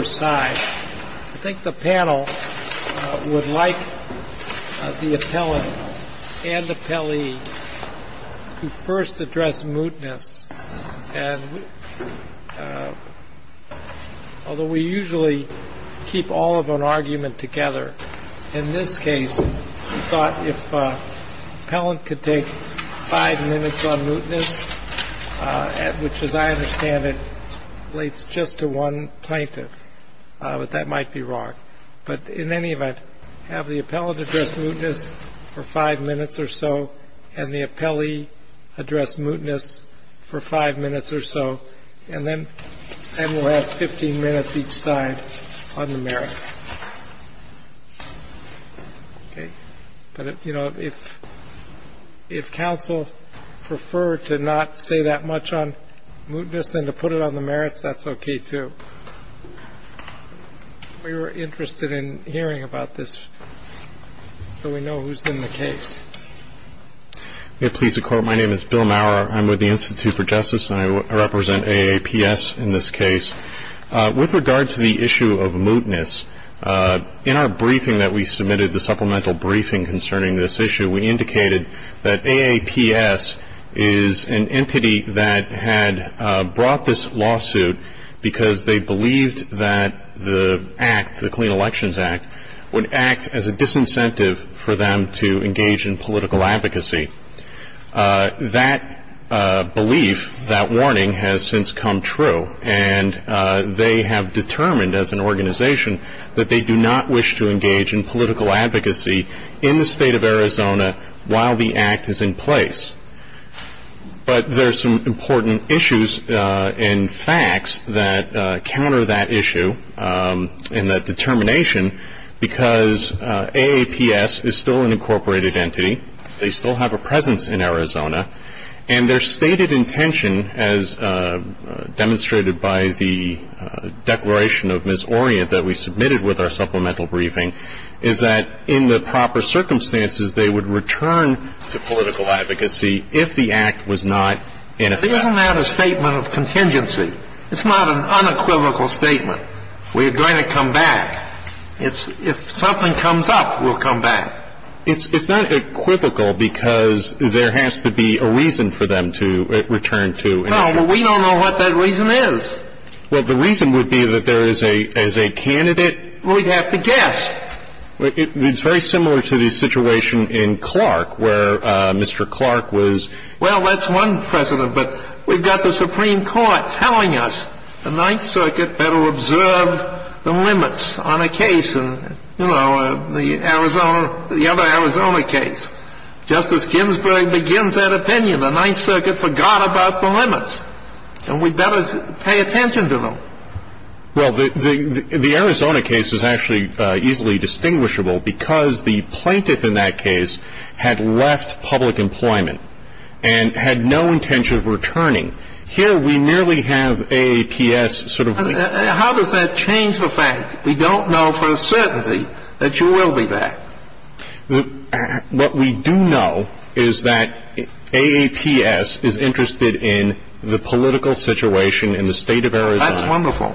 I think the panel would like the appellant and appellee to first address mootness. Although we usually keep all of an argument together, in this case we thought if the appellant could take five minutes on mootness, which as I understand it relates just to one plaintiff, that might be wrong. But in any event, have the appellant address mootness for five minutes or so, and the appellee address mootness for five minutes or so, and then we'll have 15 minutes each side on the merits. But if counsel prefer to not say that much on mootness than to put it on the merits, that's okay too. We were interested in hearing about this so we know who's in the case. Yes, please, Your Court. My name is Bill Maurer. I'm with the Institute for Justice, and I represent AAPS in this case. With regard to the issue of mootness, in our briefing that we submitted, the supplemental briefing concerning this issue, we indicated that AAPS is an entity that had brought this lawsuit because they believed that the act, the Clean Elections Act, would act as a disincentive for them to engage in political advocacy. That belief, that warning, has since come true, and they have determined as an organization that they do not wish to engage in political advocacy in the State of Arizona while the act is in place. But there are some important issues and facts that counter that issue and that determination because AAPS is still an incorporated entity. They still have a presence in Arizona. And their stated intention, as demonstrated by the declaration of Ms. Orient that we submitted with our supplemental briefing, is that in the proper circumstances, they would return to political advocacy if the act was not in effect. Isn't that a statement of contingency? It's not an unequivocal statement. We're going to come back. If something comes up, we'll come back. It's not equivocal because there has to be a reason for them to return to. No, but we don't know what that reason is. Well, the reason would be that there is a candidate. We'd have to guess. It's very similar to the situation in Clark where Mr. Clark was... Well, that's one precedent, but we've got the Supreme Court telling us the Ninth Circuit better observe the limits on a case. You know, the Arizona, the other Arizona case. Justice Ginsburg begins that opinion. The Ninth Circuit forgot about the limits. And we'd better pay attention to them. Well, the Arizona case is actually easily distinguishable because the plaintiff in that case had left public employment and had no intention of returning. Here, we merely have AAPS sort of... How does that change the fact? We don't know for a certainty that you will be back. What we do know is that AAPS is interested in the political situation in the state of Arizona. That's wonderful.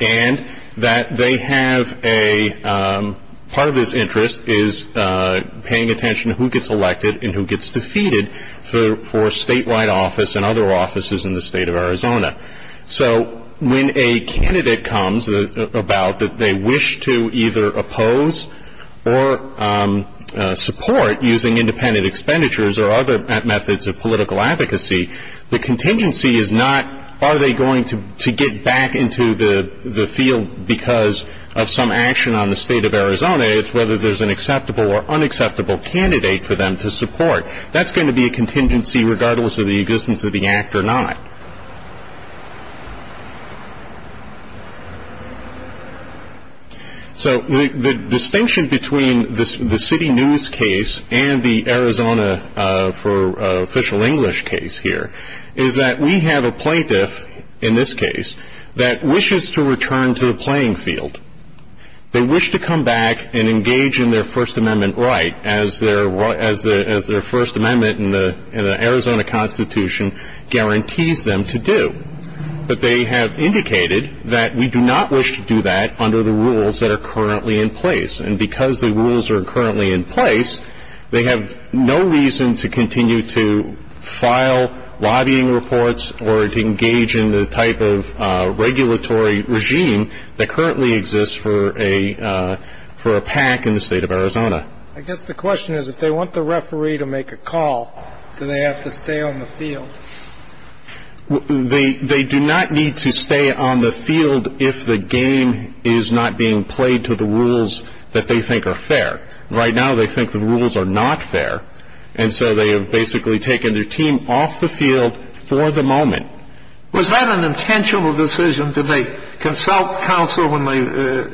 And that they have a... part of this interest is paying attention to who gets elected and who gets defeated for statewide office and other offices in the state of Arizona. So when a candidate comes about that they wish to either oppose or support using independent expenditures or other methods of political advocacy, the contingency is not are they going to get back into the field because of some action on the state of Arizona. It's whether there's an acceptable or unacceptable candidate for them to support. That's going to be a contingency regardless of the existence of the Act or not. So the distinction between the City News case and the Arizona for official English case here is that we have a plaintiff in this case that wishes to return to the playing field. They wish to come back and engage in their First Amendment right as their First Amendment in the Arizona Constitution guarantees them to do. But they have indicated that we do not wish to do that under the rules that are currently in place. And because the rules are currently in place, they have no reason to continue to file lobbying reports or to engage in the type of regulatory regime that currently exists for a PAC in the state of Arizona. I guess the question is if they want the referee to make a call, do they have to stay on the field? They do not need to stay on the field if the game is not being played to the rules that they think are fair. Right now they think the rules are not fair. And so they have basically taken their team off the field for the moment. Was that an intentional decision? Did they consult counsel when they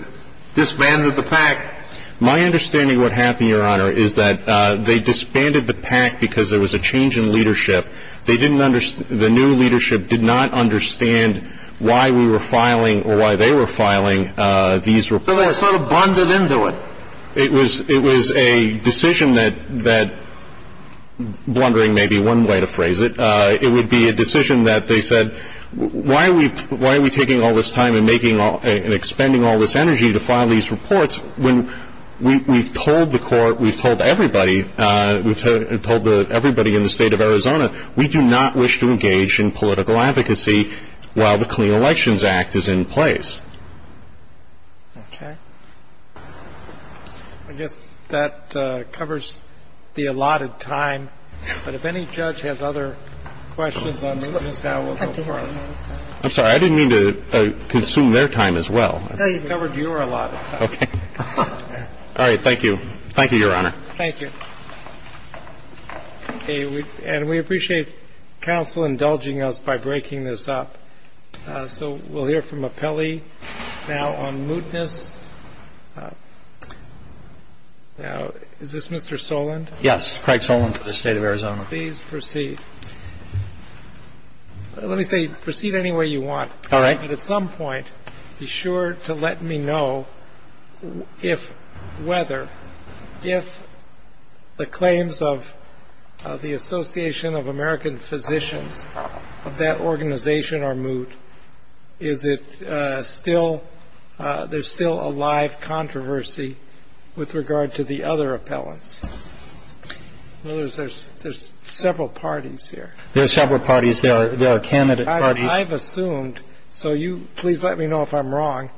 disbanded the PAC? My understanding of what happened, Your Honor, is that they disbanded the PAC because there was a change in leadership. The new leadership did not understand why we were filing or why they were filing these reports. So they sort of blundered into it? It was a decision that, blundering may be one way to phrase it, it would be a decision that they said, Why are we taking all this time and making and expending all this energy to file these reports when we've told the Court, we've told everybody, we've told everybody in the state of Arizona, we do not wish to engage in political advocacy while the Clean Elections Act is in place? Okay. I guess that covers the allotted time. But if any judge has other questions on mootness, now we'll go forward. I'm sorry. I didn't mean to consume their time as well. No, you've covered your allotted time. Okay. All right. Thank you. Thank you, Your Honor. Thank you. Okay. And we appreciate counsel indulging us by breaking this up. So we'll hear from Appelli now on mootness. Now, is this Mr. Soland? Yes, Craig Soland for the State of Arizona. Please proceed. Let me say, proceed any way you want. All right. But at some point, be sure to let me know if, whether, if the claims of the Association of American Physicians of that organization are moot. Is it still, there's still a live controversy with regard to the other appellants? In other words, there's several parties here. There are several parties. There are candidate parties. I've assumed, so you, please let me know if I'm wrong,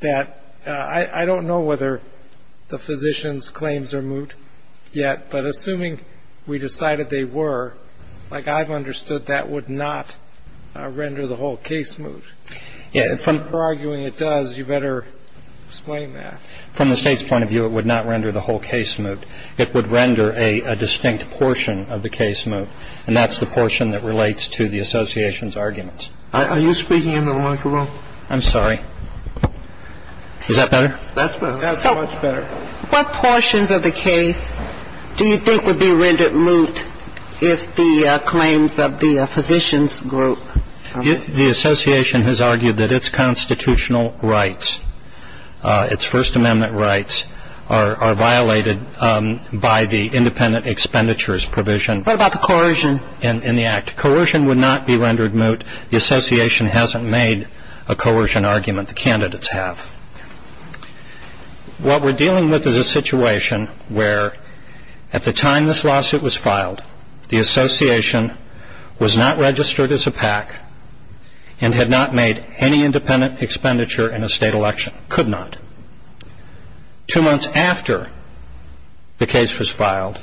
that I don't know whether the physicians' claims are moot yet. But assuming we decided they were, like, I've understood that would not render the whole case moot. If you're arguing it does, you better explain that. From the State's point of view, it would not render the whole case moot. It would render a distinct portion of the case moot. And that's the portion that relates to the association's arguments. Are you speaking into the microphone? I'm sorry. Is that better? That's better. That's much better. What portions of the case do you think would be rendered moot if the claims of the physicians' group? The association has argued that its constitutional rights, its First Amendment rights, are violated by the independent expenditures provision. What about the coercion? In the act. Coercion would not be rendered moot. The association hasn't made a coercion argument. The candidates have. What we're dealing with is a situation where, at the time this lawsuit was filed, the association was not registered as a PAC and had not made any independent expenditure in a state election. Could not. Two months after the case was filed,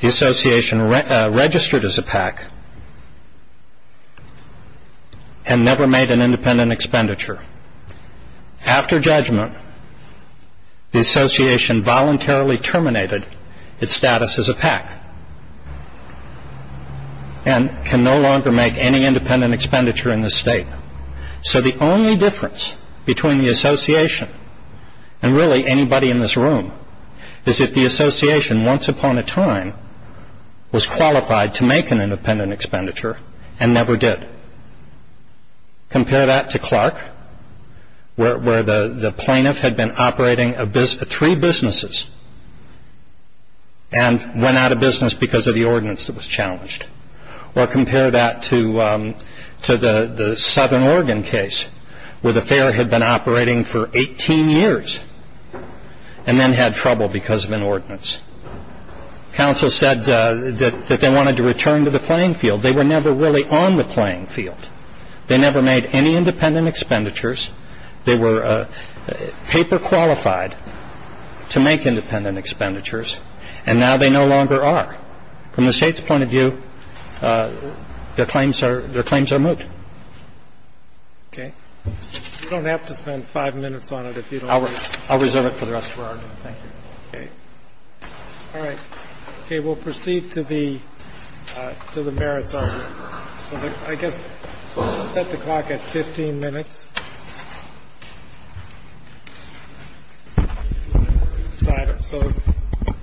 the association registered as a PAC and never made an independent expenditure. After judgment, the association voluntarily terminated its status as a PAC and can no longer make any independent expenditure in the state. So the only difference between the association and really anybody in this room is that the association, once upon a time, was qualified to make an independent expenditure and never did. Compare that to Clark, where the plaintiff had been operating three businesses and went out of business because of the ordinance that was challenged. Or compare that to the Southern Oregon case, where the fair had been operating for 18 years and then had trouble because of an ordinance. The only difference between the two is that the association, The only difference between the two is that the fair had been operating for 18 years. Counsel said that they wanted to return to the playing field. They were never really on the playing field. They never made any independent expenditures. They were paper qualified to make independent expenditures, and now they no longer are. From the State's point of view, their claims are moot. Okay. You don't have to spend five minutes on it if you don't want to. I'll reserve it for the rest of our time. Thank you. Okay. All right. Okay. We'll proceed to the merits argument. I guess set the clock at 15 minutes. So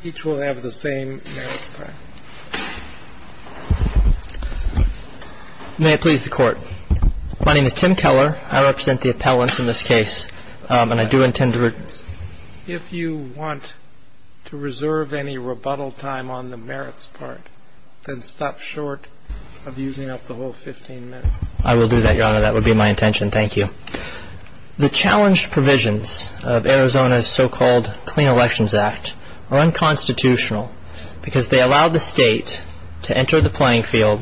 each will have the same merits time. May it please the Court. My name is Tim Keller. I represent the appellants in this case, and I do intend to reserve this. Then stop short of using up the whole 15 minutes. I will do that, Your Honor. That would be my intention. Thank you. The challenge provisions of Arizona's so-called Clean Elections Act are unconstitutional because they allow the State to enter the playing field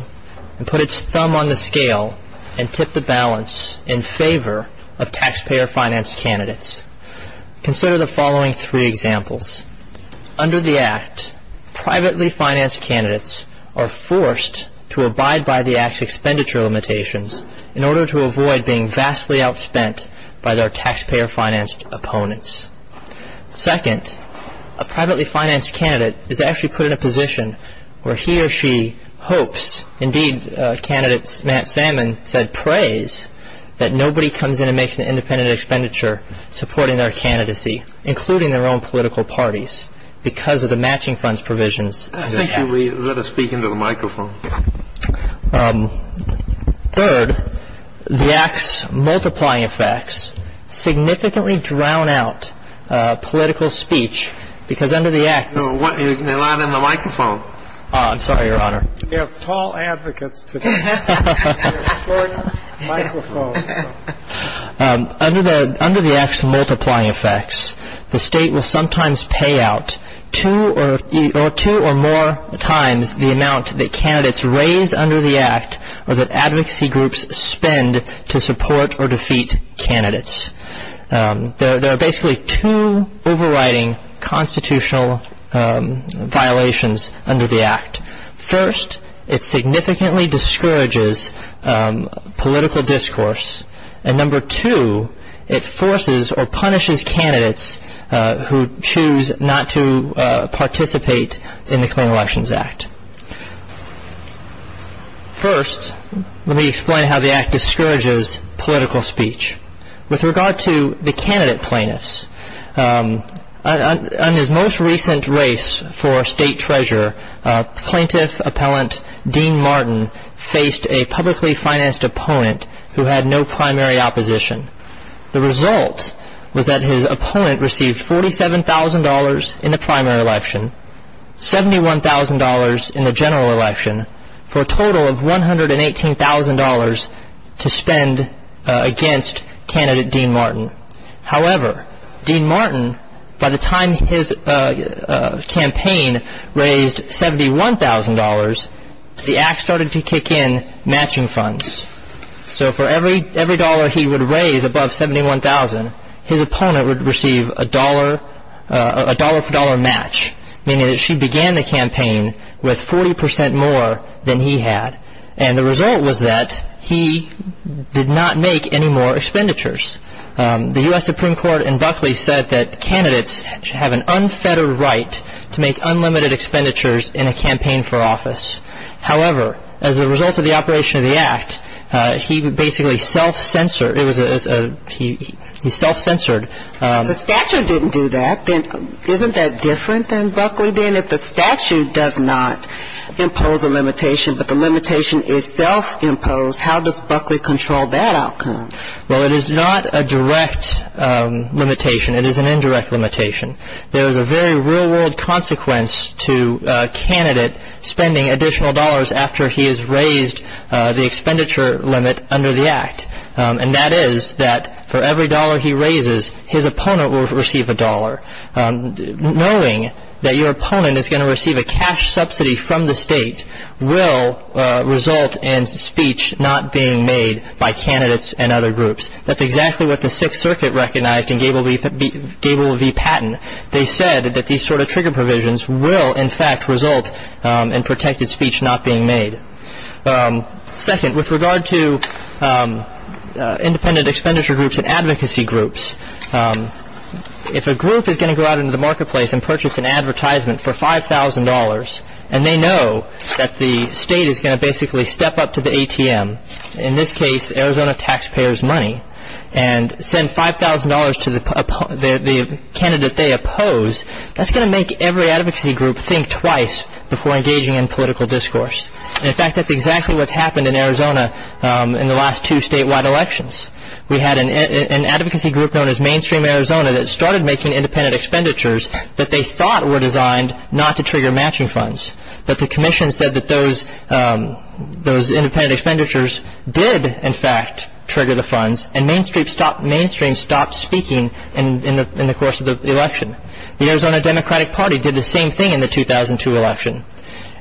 and put its thumb on the scale and tip the balance in favor of taxpayer-financed candidates. Consider the following three examples. Under the Act, privately-financed candidates are forced to abide by the Act's expenditure limitations in order to avoid being vastly outspent by their taxpayer-financed opponents. Second, a privately-financed candidate is actually put in a position where he or she hopes, indeed, candidate Matt Salmon said, prays that nobody comes in and makes an independent expenditure supporting their candidacy, including their own political parties, because of the matching funds provisions. Thank you. Let us speak into the microphone. Third, the Act's multiplying effects significantly drown out political speech because under the Act. You're not in the microphone. I'm sorry, Your Honor. We have tall advocates today. We're recording microphones. Under the Act's multiplying effects, the State will sometimes pay out two or more times the amount that candidates raise under the Act or that advocacy groups spend to support or defeat candidates. There are basically two overriding constitutional violations under the Act. First, it significantly discourages political discourse. And number two, it forces or punishes candidates who choose not to participate in the Clean Elections Act. First, let me explain how the Act discourages political speech. With regard to the candidate plaintiffs, on his most recent race for State Treasurer, plaintiff appellant Dean Martin faced a publicly financed opponent who had no primary opposition. The result was that his opponent received $47,000 in the primary election, $71,000 in the general election, for a total of $118,000 to spend against candidate Dean Martin. However, Dean Martin, by the time his campaign raised $71,000, the Act started to kick in matching funds. So for every dollar he would raise above $71,000, his opponent would receive a dollar-for-dollar match, meaning that she began the campaign with 40% more than he had. And the result was that he did not make any more expenditures. The U.S. Supreme Court in Buckley said that candidates should have an unfettered right to make unlimited expenditures in a campaign for office. However, as a result of the operation of the Act, he basically self-censored. He self-censored. But the statute didn't do that. Isn't that different than Buckley did? If the statute does not impose a limitation, but the limitation is self-imposed, how does Buckley control that outcome? Well, it is not a direct limitation. It is an indirect limitation. There is a very real-world consequence to a candidate spending additional dollars after he has raised the expenditure limit under the Act, and that is that for every dollar he raises, his opponent will receive a dollar. Knowing that your opponent is going to receive a cash subsidy from the state will result in speech not being made by candidates and other groups. That's exactly what the Sixth Circuit recognized in Gable v. Patton. They said that these sort of trigger provisions will, in fact, result in protected speech not being made. Second, with regard to independent expenditure groups and advocacy groups, if a group is going to go out into the marketplace and purchase an advertisement for $5,000 and they know that the state is going to basically step up to the ATM, in this case Arizona taxpayers' money, and send $5,000 to the candidate they oppose, that's going to make every advocacy group think twice before engaging in political discourse. In fact, that's exactly what's happened in Arizona in the last two statewide elections. We had an advocacy group known as Mainstream Arizona that started making independent expenditures that they thought were designed not to trigger matching funds, but the commission said that those independent expenditures did, in fact, trigger the funds, and Mainstream stopped speaking in the course of the election. The Arizona Democratic Party did the same thing in the 2002 election.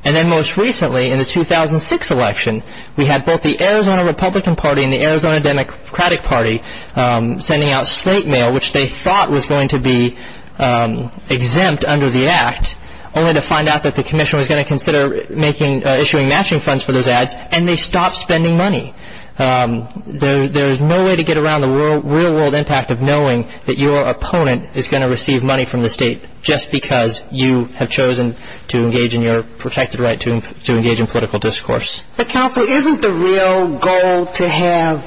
And then most recently, in the 2006 election, we had both the Arizona Republican Party and the Arizona Democratic Party sending out slate mail, which they thought was going to be exempt under the act, only to find out that the commission was going to consider issuing matching funds for those ads, and they stopped spending money. There's no way to get around the real world impact of knowing that your opponent is going to receive money from the state just because you have chosen to engage in your protected right to engage in political discourse. But counsel, isn't the real goal to have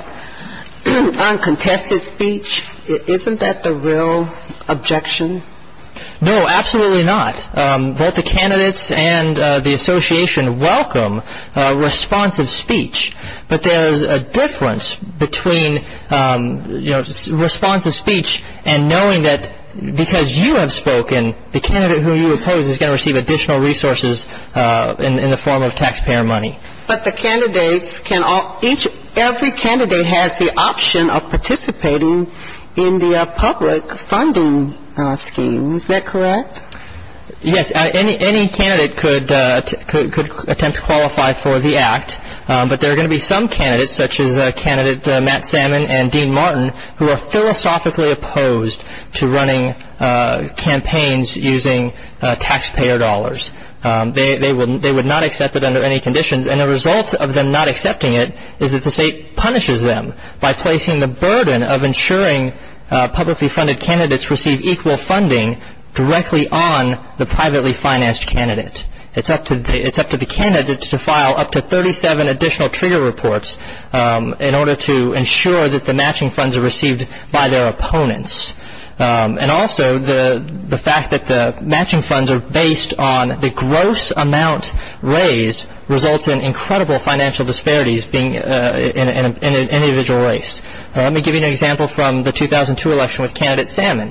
uncontested speech? Isn't that the real objection? No, absolutely not. Both the candidates and the association welcome responsive speech, but there's a difference between responsive speech and knowing that because you have spoken, the candidate who you oppose is going to receive additional resources in the form of taxpayer money. But the candidates can all ‑‑ every candidate has the option of participating in the public funding scheme. Isn't that correct? Yes, any candidate could attempt to qualify for the act, but there are going to be some candidates, such as candidate Matt Salmon and Dean Martin, who are philosophically opposed to running campaigns using taxpayer dollars. They would not accept it under any conditions, and the result of them not accepting it is that the state punishes them by placing the burden of ensuring publicly funded candidates receive equal funding directly on the privately financed candidate. It's up to the candidates to file up to 37 additional trigger reports in order to ensure that the matching funds are received by their opponents. And also the fact that the matching funds are based on the gross amount raised results in incredible financial disparities in an individual race. Let me give you an example from the 2002 election with candidate Salmon.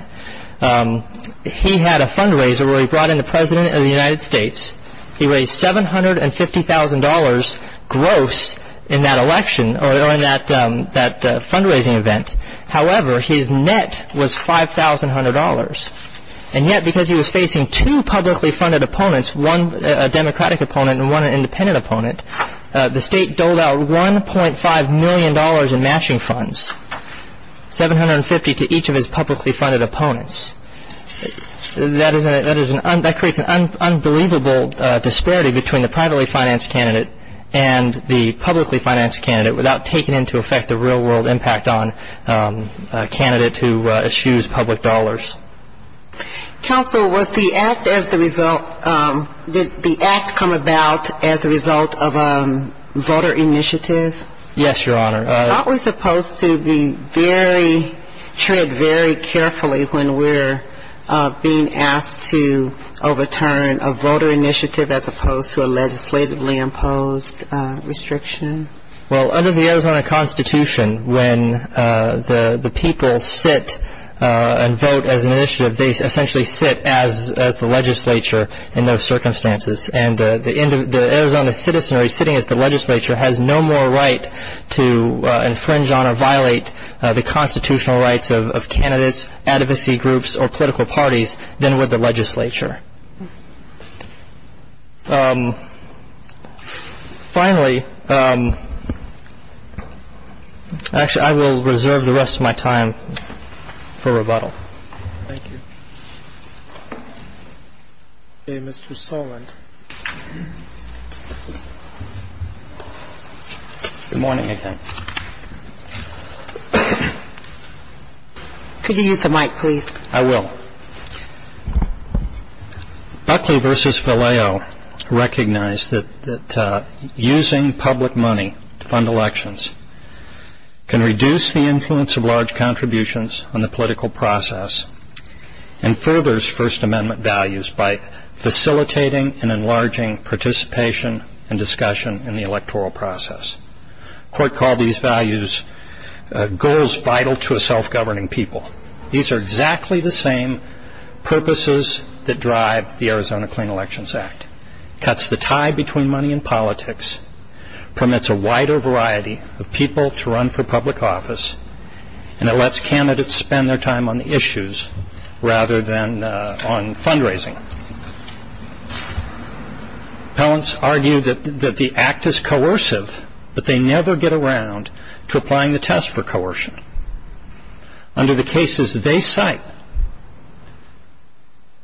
He had a fundraiser where he brought in the President of the United States. He raised $750,000 gross in that election or in that fundraising event. However, his net was $5,100. And yet because he was facing two publicly funded opponents, one a Democratic opponent and one an independent opponent, the state doled out $1.5 million in matching funds, $750,000 to each of his publicly funded opponents. That creates an unbelievable disparity between the privately financed candidate and the publicly financed candidate without taking into effect the real world impact on a candidate who eschews public dollars. Counsel, was the act as the result, did the act come about as the result of a voter initiative? Yes, Your Honor. Aren't we supposed to tread very carefully when we're being asked to overturn a voter initiative as opposed to a legislatively imposed restriction? Well, under the Arizona Constitution, when the people sit and vote as an initiative, they essentially sit as the legislature in those circumstances. And the Arizona citizenry sitting as the legislature has no more right to infringe on or violate the constitutional rights of candidates, advocacy groups, or political parties than would the legislature. Finally, actually I will reserve the rest of my time for rebuttal. Thank you. Okay, Mr. Soland. Good morning again. Could you use the mic, please? I will. Buckley v. Vallejo recognized that using public money to fund elections can reduce the influence of large contributions on the political process and furthers First Amendment values by facilitating and enlarging participation and discussion in the electoral process. Court called these values goals vital to a self-governing people. These are exactly the same purposes that drive the Arizona Clean Elections Act. It cuts the tie between money and politics, permits a wider variety of people to run for public office, and it lets candidates spend their time on the issues rather than on fundraising. Appellants argue that the act is coercive, but they never get around to applying the test for coercion. Under the cases they cite,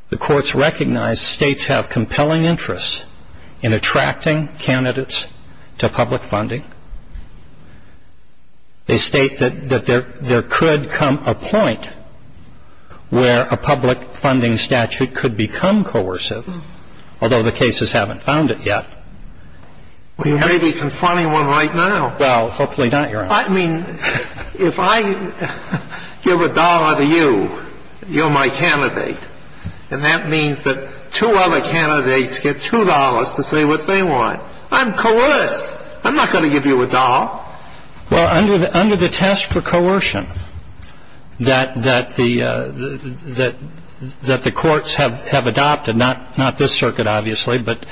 the courts recognize states have compelling interests in attracting candidates to public funding. They state that there could come a point where a public funding statute could become coercive, although the cases haven't found it yet. Well, you may be confronting one right now. Well, hopefully not, Your Honor. I mean, if I give a dollar to you, you're my candidate, and that means that two other candidates get two dollars to say what they want, I'm coerced. I'm not going to give you a dollar. Well, under the test for coercion that the courts have adopted, not this circuit, obviously, but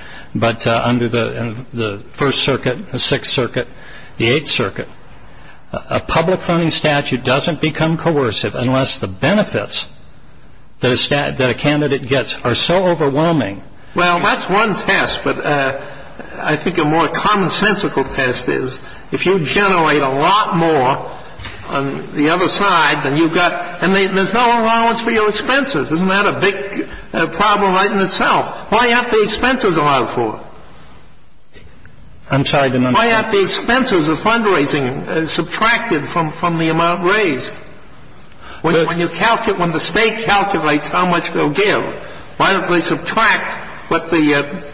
under the First Circuit, the Sixth Circuit, the Eighth Circuit, a public funding statute doesn't become coercive unless the benefits that a candidate gets are so overwhelming. Well, that's one test, but I think a more commonsensical test is if you generate a lot more on the other side, then you've got – and there's no allowance for your expenses. Isn't that a big problem right in itself? Why aren't the expenses allowed for? I'm sorry, Your Honor. Why aren't the expenses of fundraising subtracted from the amount raised? When you calculate – when the State calculates how much they'll give, why don't they subtract what the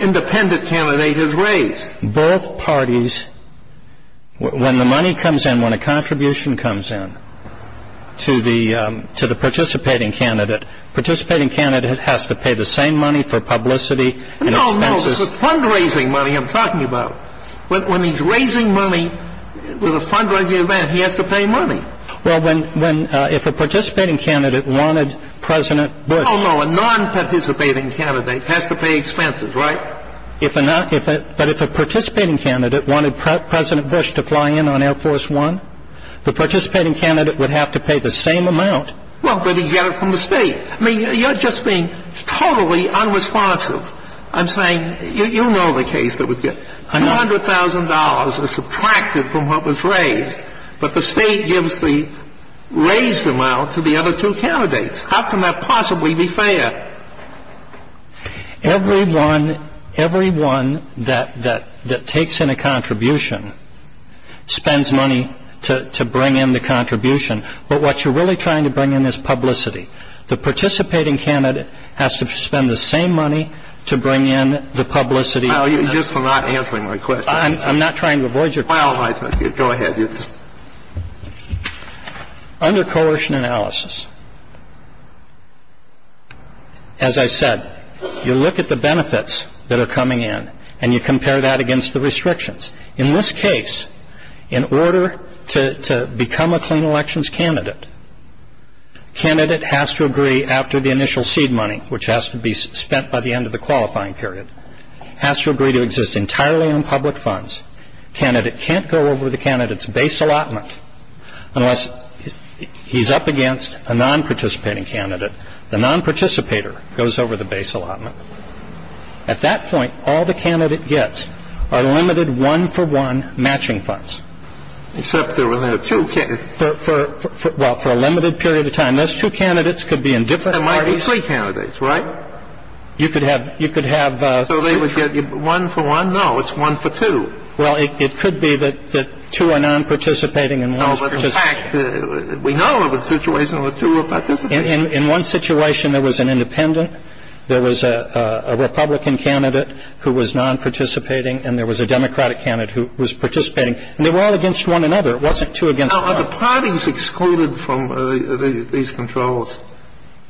independent candidate has raised? Both parties – when the money comes in, when a contribution comes in to the participating candidate, participating candidate has to pay the same money for publicity and expenses. No, no. This is fundraising money I'm talking about. When he's raising money for the fundraising event, he has to pay money. Well, when – if a participating candidate wanted President Bush – Oh, no. A non-participating candidate has to pay expenses, right? If a – but if a participating candidate wanted President Bush to fly in on Air Force One, the participating candidate would have to pay the same amount. Well, but he'd get it from the State. I mean, you're just being totally unresponsive. I'm saying – you know the case that would get – $200,000 is subtracted from what was raised, but the State gives the raised amount to the other two candidates. How can that possibly be fair? Everyone – everyone that takes in a contribution spends money to bring in the contribution. But what you're really trying to bring in is publicity. The participating candidate has to spend the same money to bring in the publicity. Well, you're just not answering my question. I'm not trying to avoid your question. Well, I – go ahead. Under coercion analysis, as I said, you look at the benefits that are coming in, and you compare that against the restrictions. In this case, in order to become a clean elections candidate, candidate has to agree after the initial seed money, which has to be spent by the end of the qualifying period, has to agree to exist entirely in public funds. Candidate can't go over the candidate's base allotment unless he's up against a non-participating candidate. The non-participator goes over the base allotment. At that point, all the candidate gets are limited one-for-one matching funds. Except there were two candidates. Well, for a limited period of time. Those two candidates could be in different parties. There might be three candidates, right? You could have – you could have – So they would get one-for-one? No, it's one-for-two. Well, it could be that two are non-participating and one is participating. No, but in fact, we know of a situation where two are participating. In one situation, there was an independent, there was a Republican candidate who was non-participating, and there was a Democratic candidate who was participating. And they were all against one another. It wasn't two against one. Now, are the parties excluded from these controls?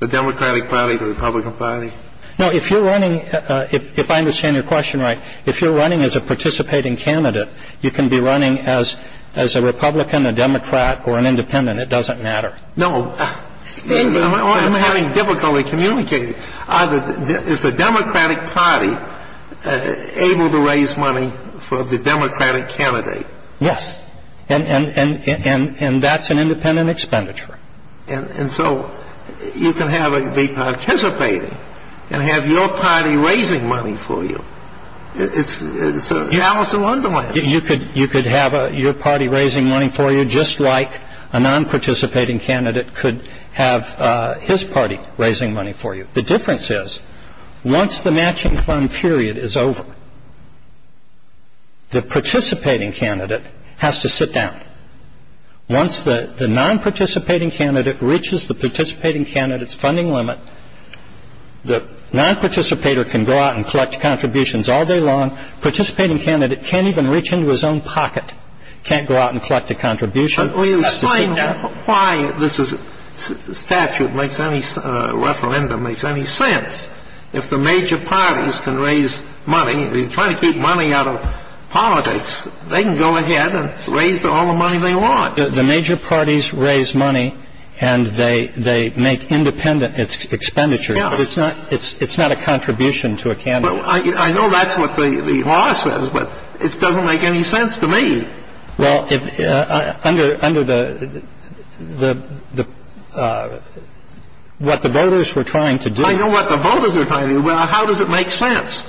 The Democratic party, the Republican party? No, if you're running – if I understand your question right, if you're running as a participating candidate, you can be running as a Republican, a Democrat, or an independent. It doesn't matter. No. I'm having difficulty communicating. Is the Democratic party able to raise money for the Democratic candidate? Yes. And that's an independent expenditure. And so you can have it be participating and have your party raising money for you. It's an Alice in Wonderland. You could have your party raising money for you, just like a non-participating candidate could have his party raising money for you. The difference is, once the matching fund period is over, the participating candidate has to sit down. Once the non-participating candidate reaches the participating candidate's funding limit, the non-participator can go out and collect contributions all day long. Participating candidate can't even reach into his own pocket, can't go out and collect a contribution. Are you explaining why this statute makes any – referendum makes any sense? If the major parties can raise money, if you're trying to keep money out of politics, they can go ahead and raise all the money they want. The major parties raise money and they make independent expenditures. Yeah. But it's not a contribution to a candidate. I know that's what the law says, but it doesn't make any sense to me. Well, under the – what the voters were trying to do – I know what the voters were trying to do. Well, how does it make sense?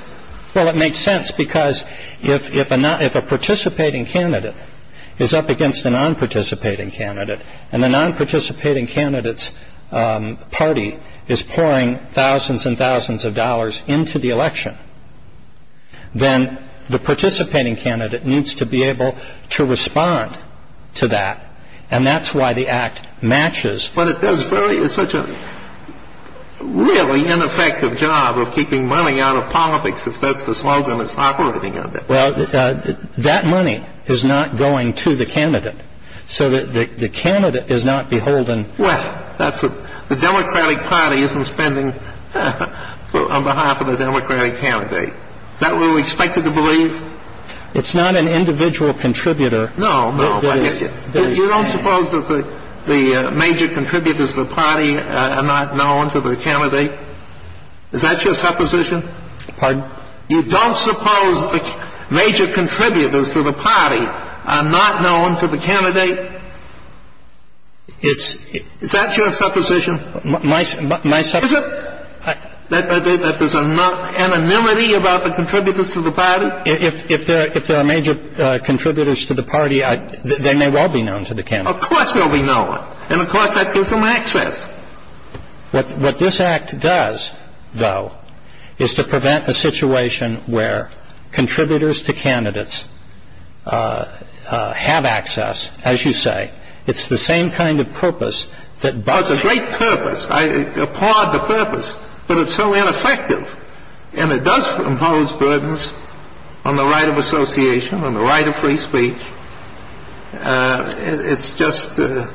Well, it makes sense because if a participating candidate is up against a non-participating candidate and the non-participating candidate's party is pouring thousands and thousands of dollars into the election, then the participating candidate needs to be able to respond to that. And that's why the Act matches. But it does very – it's such a really ineffective job of keeping money out of politics, if that's the slogan it's operating under. Well, that money is not going to the candidate. So the candidate is not beholden. Well, that's a – the Democratic Party isn't spending on behalf of the Democratic candidate. Is that what we're expected to believe? It's not an individual contributor. No, no. You don't suppose that the major contributors to the party are not known to the candidate? Is that your supposition? Pardon? You don't suppose the major contributors to the party are not known to the candidate? It's – Is that your supposition? My – my – Is it? That there's an anonymity about the contributors to the party? If there are major contributors to the party, they may well be known to the candidate. Of course they'll be known. And of course that gives them access. What this Act does, though, is to prevent a situation where contributors to candidates have access, as you say. It's the same kind of purpose that – Well, it's a great purpose. I applaud the purpose. But it's so ineffective. And it does impose burdens on the right of association, on the right of free speech. It's just a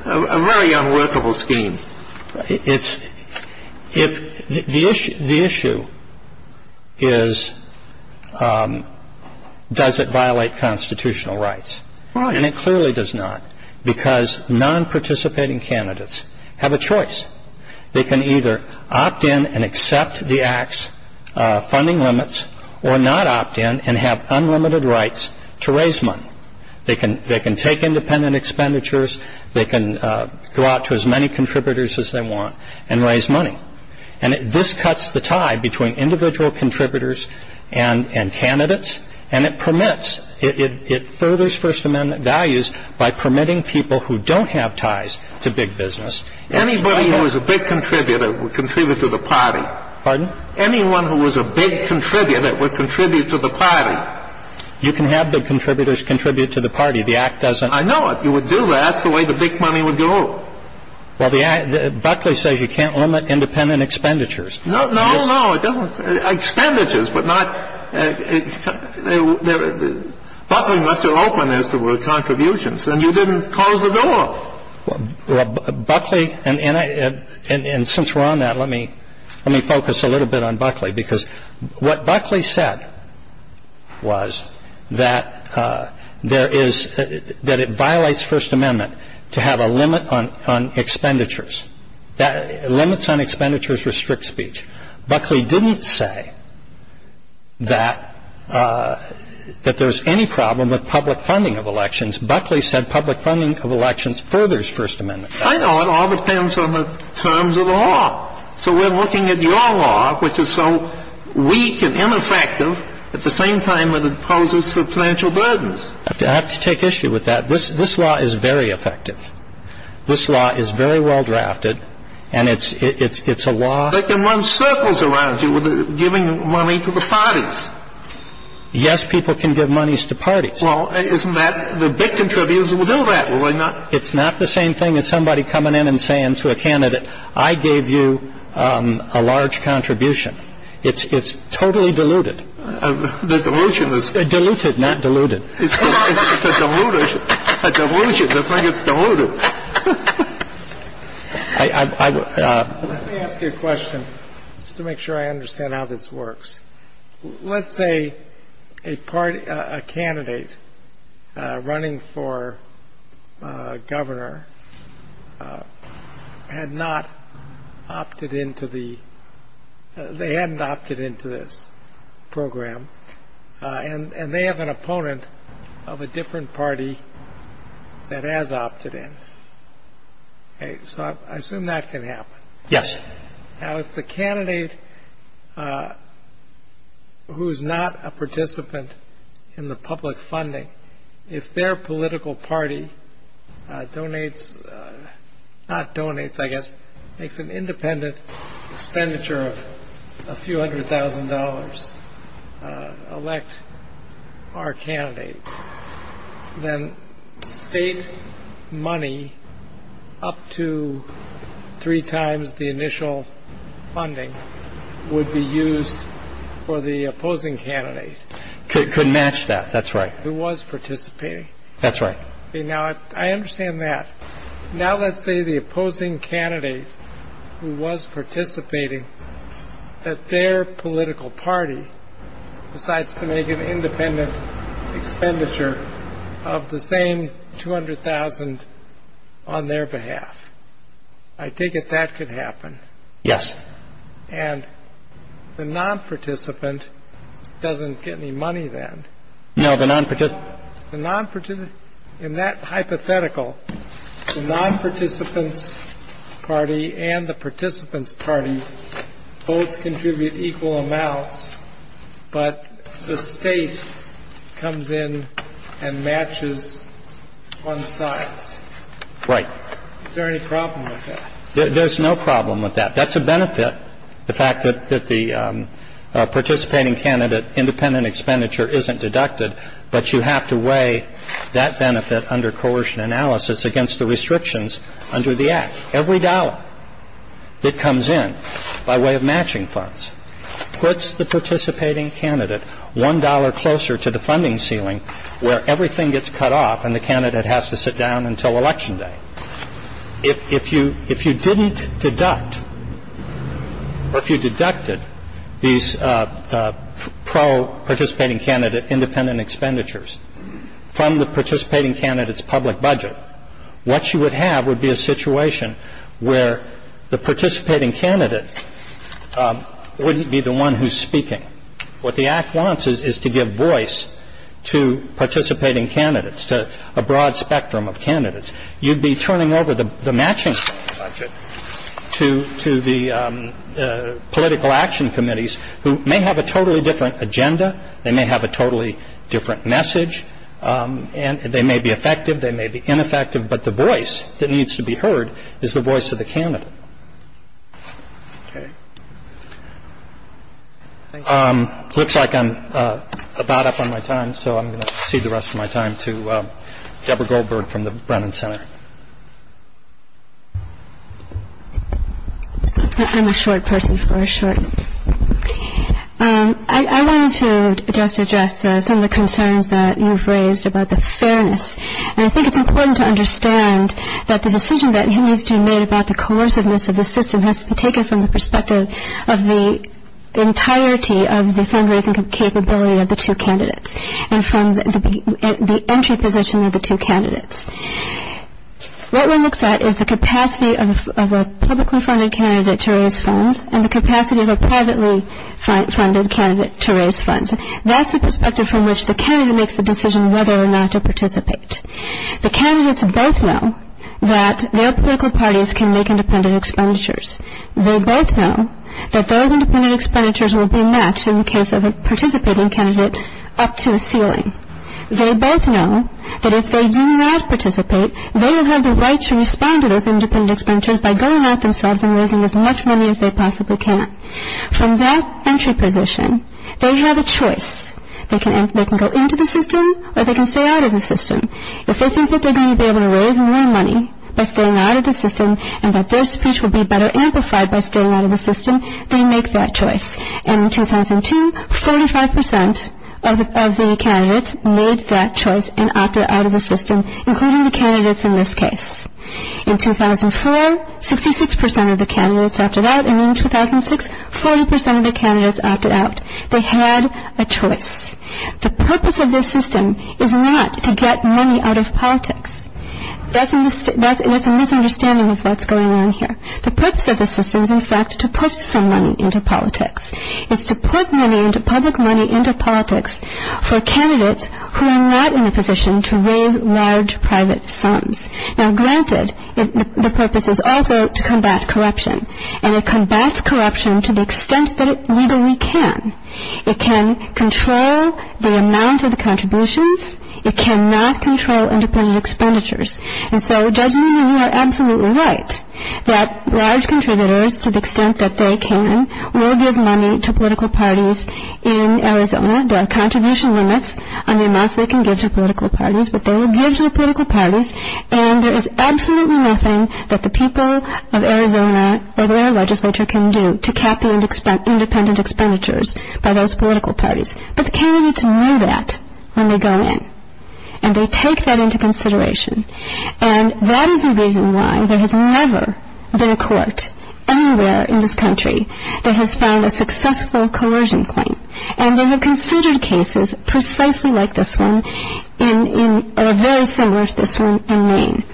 very unworkable scheme. It's – if – the issue is, does it violate constitutional rights? And it clearly does not, because non-participating candidates have a choice. They can either opt in and accept the Act's funding limits or not opt in and have unlimited rights to raise money. They can take independent expenditures. They can go out to as many contributors as they want and raise money. And this cuts the tie between individual contributors and candidates. And it permits – it furthers First Amendment values by permitting people who don't have ties to big business. Anybody who was a big contributor would contribute to the party. Pardon? Anyone who was a big contributor would contribute to the party. You can have the contributors contribute to the party. The Act doesn't – I know it. You would do that. That's the way the big money would go. Well, the Act – Buckley says you can't limit independent expenditures. No, no, no. It doesn't – expenditures, but not – Buckley lets it open as to contributions. And you didn't close the door. Well, Buckley – and since we're on that, let me focus a little bit on Buckley. Because what Buckley said was that there is – that it violates First Amendment to have a limit on expenditures. Limits on expenditures restrict speech. Buckley didn't say that there's any problem with public funding of elections. Buckley said public funding of elections furthers First Amendment. I know. It all depends on the terms of the law. So we're looking at your law, which is so weak and ineffective, at the same time that it poses substantial burdens. I have to take issue with that. This law is very effective. This law is very well drafted, and it's a law – But it can run circles around you with giving money to the parties. Yes, people can give monies to parties. Well, isn't that – the big contributors will do that, will they not? It's not the same thing as somebody coming in and saying to a candidate, I gave you a large contribution. It's totally diluted. The dilution is – Diluted, not diluted. It's a dilution to think it's diluted. Let me ask you a question just to make sure I understand how this works. Let's say a candidate running for governor had not opted into the – they hadn't opted into this program, and they have an opponent of a different party that has opted in. So I assume that can happen. Yes. Now, if the candidate who is not a participant in the public funding, if their political party donates – not donates, I guess – makes an independent expenditure of a few hundred thousand dollars, elect our candidate, then state money up to three times the initial funding would be used for the opposing candidate. Could match that. That's right. Who was participating. That's right. Now, I understand that. Now let's say the opposing candidate who was participating, that their political party decides to make an independent expenditure of the same 200,000 on their behalf. I take it that could happen. Yes. And the nonparticipant doesn't get any money then. No, the nonparticipant – In that hypothetical, the nonparticipant's party and the participant's party both contribute equal amounts, but the State comes in and matches on sides. Right. Is there any problem with that? There's no problem with that. That's a benefit, the fact that the participating candidate independent expenditure isn't deducted, but you have to weigh that benefit under coercion analysis against the restrictions under the Act. Every dollar that comes in by way of matching funds puts the participating candidate one dollar closer to the funding ceiling where everything gets cut off and the candidate has to sit down until Election Day. If you didn't deduct or if you deducted these pro-participating candidate independent expenditures from the participating candidate's public budget, what you would have would be a situation where the participating candidate wouldn't be the one who's speaking. What the Act wants is to give voice to participating candidates, to a broad spectrum of candidates. You'd be turning over the matching budget to the political action committees who may have a totally different agenda, they may have a totally different message, and they may be effective, they may be ineffective, but the voice that needs to be heard is the voice of the candidate. It looks like I'm about up on my time, so I'm going to cede the rest of my time to Deborah Goldberg from the Brennan Center. I'm a short person for a short. I wanted to just address some of the concerns that you've raised about the fairness, and I think it's important to understand that the decision that needs to be made about the coerciveness of the system has to be taken from the perspective of the entirety of the fundraising capability of the two candidates. And from the entry position of the two candidates. What one looks at is the capacity of a publicly funded candidate to raise funds, and the capacity of a privately funded candidate to raise funds. That's the perspective from which the candidate makes the decision whether or not to participate. The candidates both know that their political parties can make independent expenditures. They both know that those independent expenditures will be matched in the case of a participating candidate up to the ceiling. They both know that if they do not participate, they will have the right to respond to those independent expenditures by going at themselves and raising as much money as they possibly can. From that entry position, they have a choice. They can go into the system or they can stay out of the system. If they think that they're going to be able to raise more money by staying out of the system and that their speech will be better amplified by staying out of the system, they make that choice. And in 2002, 45% of the candidates made that choice and opted out of the system, including the candidates in this case. In 2004, 66% of the candidates opted out. And in 2006, 40% of the candidates opted out. They had a choice. The purpose of this system is not to get money out of politics. That's a misunderstanding of what's going on here. The purpose of the system is, in fact, to put some money into politics. It's to put money into public money into politics for candidates who are not in a position to raise large private sums. Now, granted, the purpose is also to combat corruption, and it combats corruption to the extent that it legally can. It can control the amount of the contributions. It cannot control independent expenditures. And so Judge Newman, you are absolutely right that large contributors, to the extent that they can, will give money to political parties in Arizona. There are contribution limits on the amounts they can give to political parties, but they will give to the political parties, and there is absolutely nothing that the people of Arizona or their legislature can do to cap the independent expenditures by those political parties. But the candidates know that when they go in, and they take that into consideration. And that is the reason why there has never been a court anywhere in this country that has found a successful coercion claim. And they have considered cases precisely like this one, or very similar to this one, in Maine.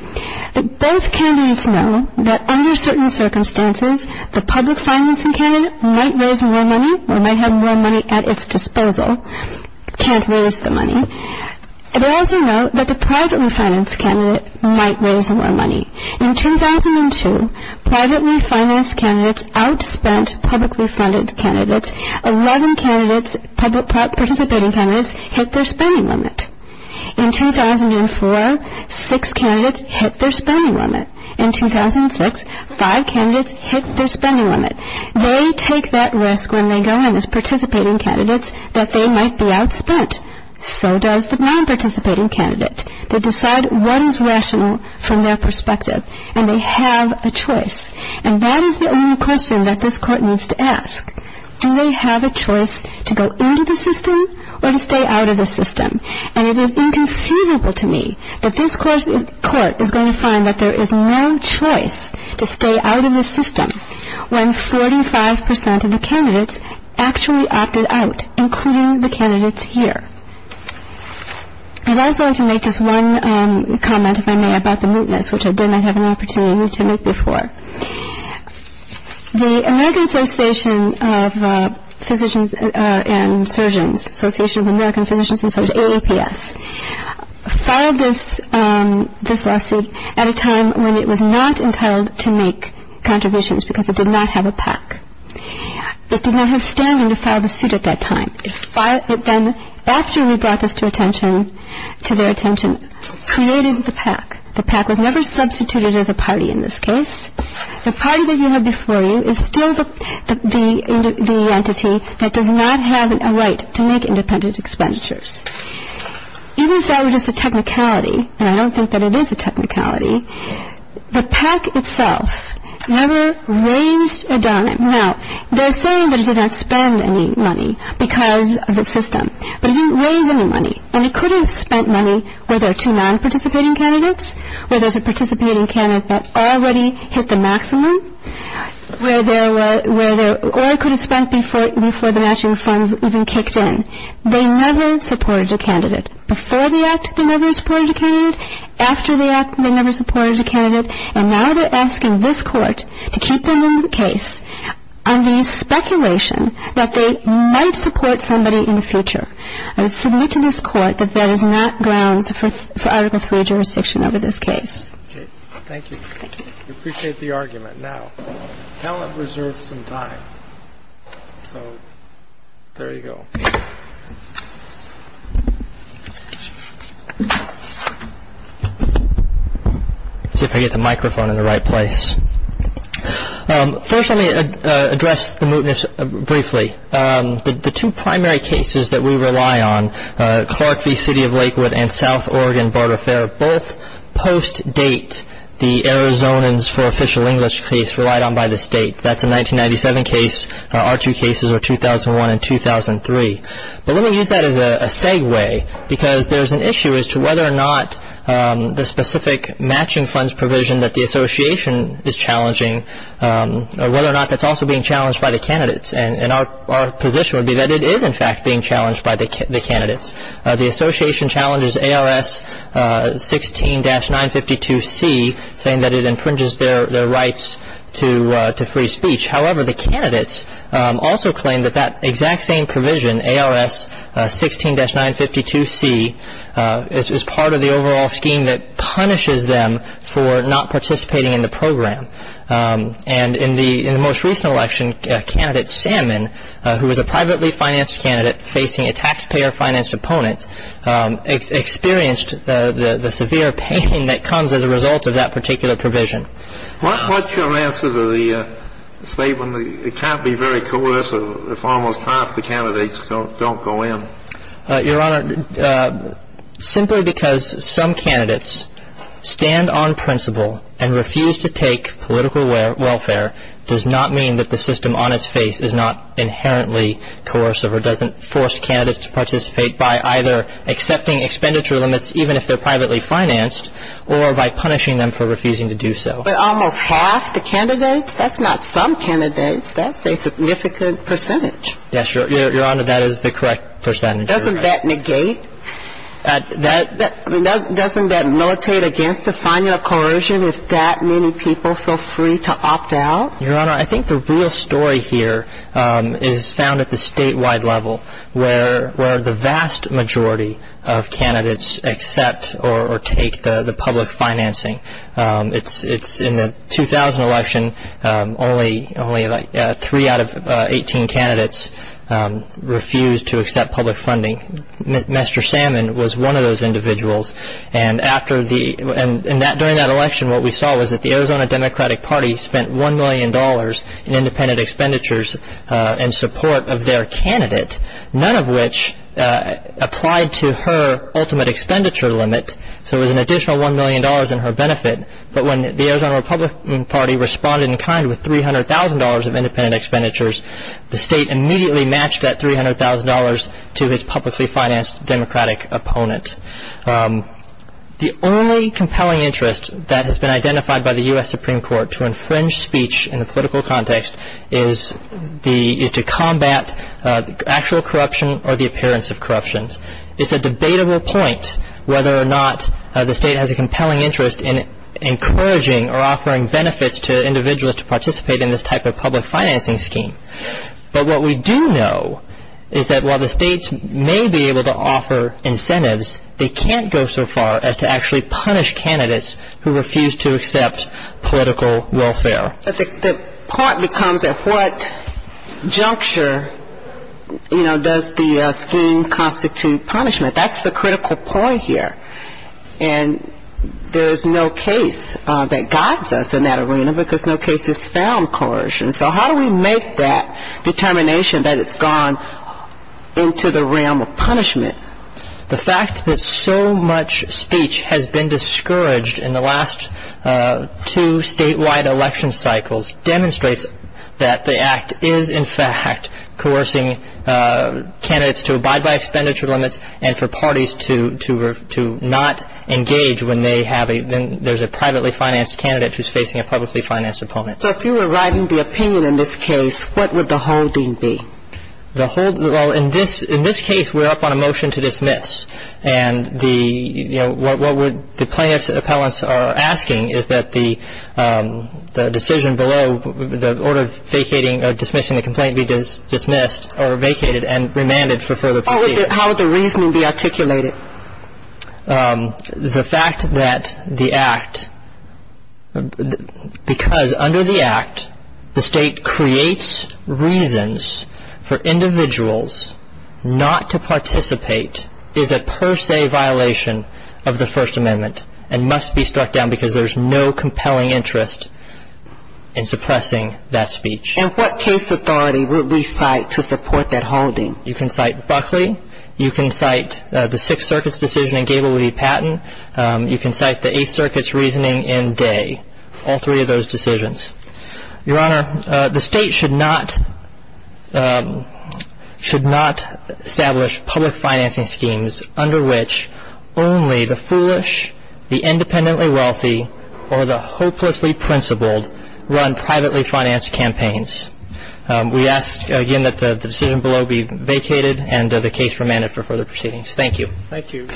Both candidates know that under certain circumstances, the public financing candidate might raise more money, or might have more money at its disposal, can't raise the money. They also know that the privately financed candidate might raise more money. In 2002, privately financed candidates outspent publicly funded candidates. Eleven participating candidates hit their spending limit. In 2004, six candidates hit their spending limit. In 2006, five candidates hit their spending limit. They take that risk when they go in as participating candidates that they might be outspent. So does the nonparticipating candidate. They decide what is rational from their perspective. And they have a choice. And that is the only question that this court needs to ask. Do they have a choice to go into the system or to stay out of the system? And it is inconceivable to me that this court is going to find that there is no choice to stay out of the system when 45 percent of the candidates actually opted out, including the candidates here. I'd also like to make just one comment, if I may, about the mootness, which I did not have an opportunity to make before. The American Association of Physicians and Surgeons, Association of American Physicians and Surgeons, AAPS, filed this lawsuit at a time when it was not entitled to make contributions because it did not have a PAC. It did not have standing to file the suit at that time. It then, after we brought this to their attention, created the PAC. The PAC was never substituted as a party in this case. The party that you have before you is still the entity that does not have a right to make independent expenditures. Even if that were just a technicality, and I don't think that it is a technicality, the PAC itself never raised a dollar. Now, they're saying that it did not spend any money because of the system, but it didn't raise any money. And it could have spent money where there are two non-participating candidates, where there's a participating candidate that already hit the maximum, or it could have spent before the matching funds even kicked in. They never supported a candidate. Before the act, they never supported a candidate. After the act, they never supported a candidate. And now they're asking this Court to keep them in the case on the speculation that they might support somebody in the future. I would submit to this Court that that is not grounds for Article III jurisdiction over this case. Okay. Thank you. Thank you. We appreciate the argument. Now, Helen reserved some time, so there you go. Let's see if I can get the microphone in the right place. First, let me address the mootness briefly. The two primary cases that we rely on, Clark v. City of Lakewood and South Oregon Border Fair, both post-date the Arizonans for Official English case relied on by the state. That's a 1997 case. Our two cases are 2001 and 2003. But let me use that as a segue because there's an issue as to whether or not the specific matching funds provision that the Association is challenging, whether or not that's also being challenged by the candidates. And our position would be that it is, in fact, being challenged by the candidates. The Association challenges ARS 16-952C, saying that it infringes their rights to free speech. However, the candidates also claim that that exact same provision, ARS 16-952C, is part of the overall scheme that punishes them for not participating in the program. And in the most recent election, candidate Salmon, who was a privately financed candidate facing a taxpayer-financed opponent, experienced the severe pain that comes as a result of that particular provision. What's your answer to the statement that it can't be very coercive if almost half the candidates don't go in? Your Honor, simply because some candidates stand on principle and refuse to take political welfare does not mean that the system on its face is not inherently coercive or doesn't force candidates to participate by either accepting expenditure limits, even if they're privately financed, or by punishing them for refusing to do so. But almost half the candidates? That's not some candidates. That's a significant percentage. Yes, Your Honor, that is the correct percentage. Doesn't that negate? Doesn't that militate against the finding of coercion if that many people feel free to opt out? Your Honor, I think the real story here is found at the statewide level, where the vast majority of candidates accept or take the public financing. In the 2000 election, only three out of 18 candidates refused to accept public funding. Mr. Salmon was one of those individuals. And during that election, what we saw was that the Arizona Democratic Party spent $1 million in independent expenditures in support of their candidate, none of which applied to her ultimate expenditure limit. So there was an additional $1 million in her benefit. But when the Arizona Republican Party responded in kind with $300,000 of independent expenditures, the state immediately matched that $300,000 to his publicly financed Democratic opponent. The only compelling interest that has been identified by the U.S. Supreme Court to infringe speech in a political context is to combat actual corruption or the appearance of corruption. It's a debatable point whether or not the state has a compelling interest in encouraging or offering benefits to individuals to participate in this type of public financing scheme. But what we do know is that while the states may be able to offer incentives, they can't go so far as to actually punish candidates who refuse to accept political welfare. The part becomes at what juncture, you know, does the scheme constitute punishment. That's the critical point here. And there is no case that guides us in that arena because no case has found coercion. So how do we make that determination that it's gone into the realm of punishment? The fact that so much speech has been discouraged in the last two statewide election cycles demonstrates that the Act is in fact coercing candidates to abide by expenditure limits and for parties to not engage when there's a privately financed candidate who's facing a publicly financed opponent. So if you were writing the opinion in this case, what would the holding be? Well, in this case, we're up on a motion to dismiss. And, you know, what the plaintiffs' appellants are asking is that the decision below, the order of vacating or dismissing the complaint be dismissed or vacated and remanded for further procedure. How would the reasoning be articulated? The fact that the Act, because under the Act the state creates reasons for individuals not to participate is a per se violation of the First Amendment and must be struck down because there's no compelling interest in suppressing that speech. And what case authority would we cite to support that holding? You can cite Buckley. You can cite the Sixth Circuit's decision in Gable v. Patton. You can cite the Eighth Circuit's reasoning in Day, all three of those decisions. Your Honor, the state should not establish public financing schemes under which only the foolish, the independently wealthy, or the hopelessly principled run privately financed campaigns. We ask, again, that the decision below be vacated and the case remanded for further proceedings. Thank you. Thank you.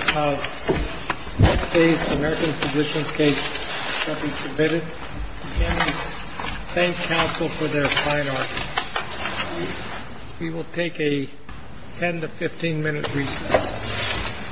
Today's American Physicians case shall be submitted. Again, we thank counsel for their fine art. We will take a 10 to 15 minute recess.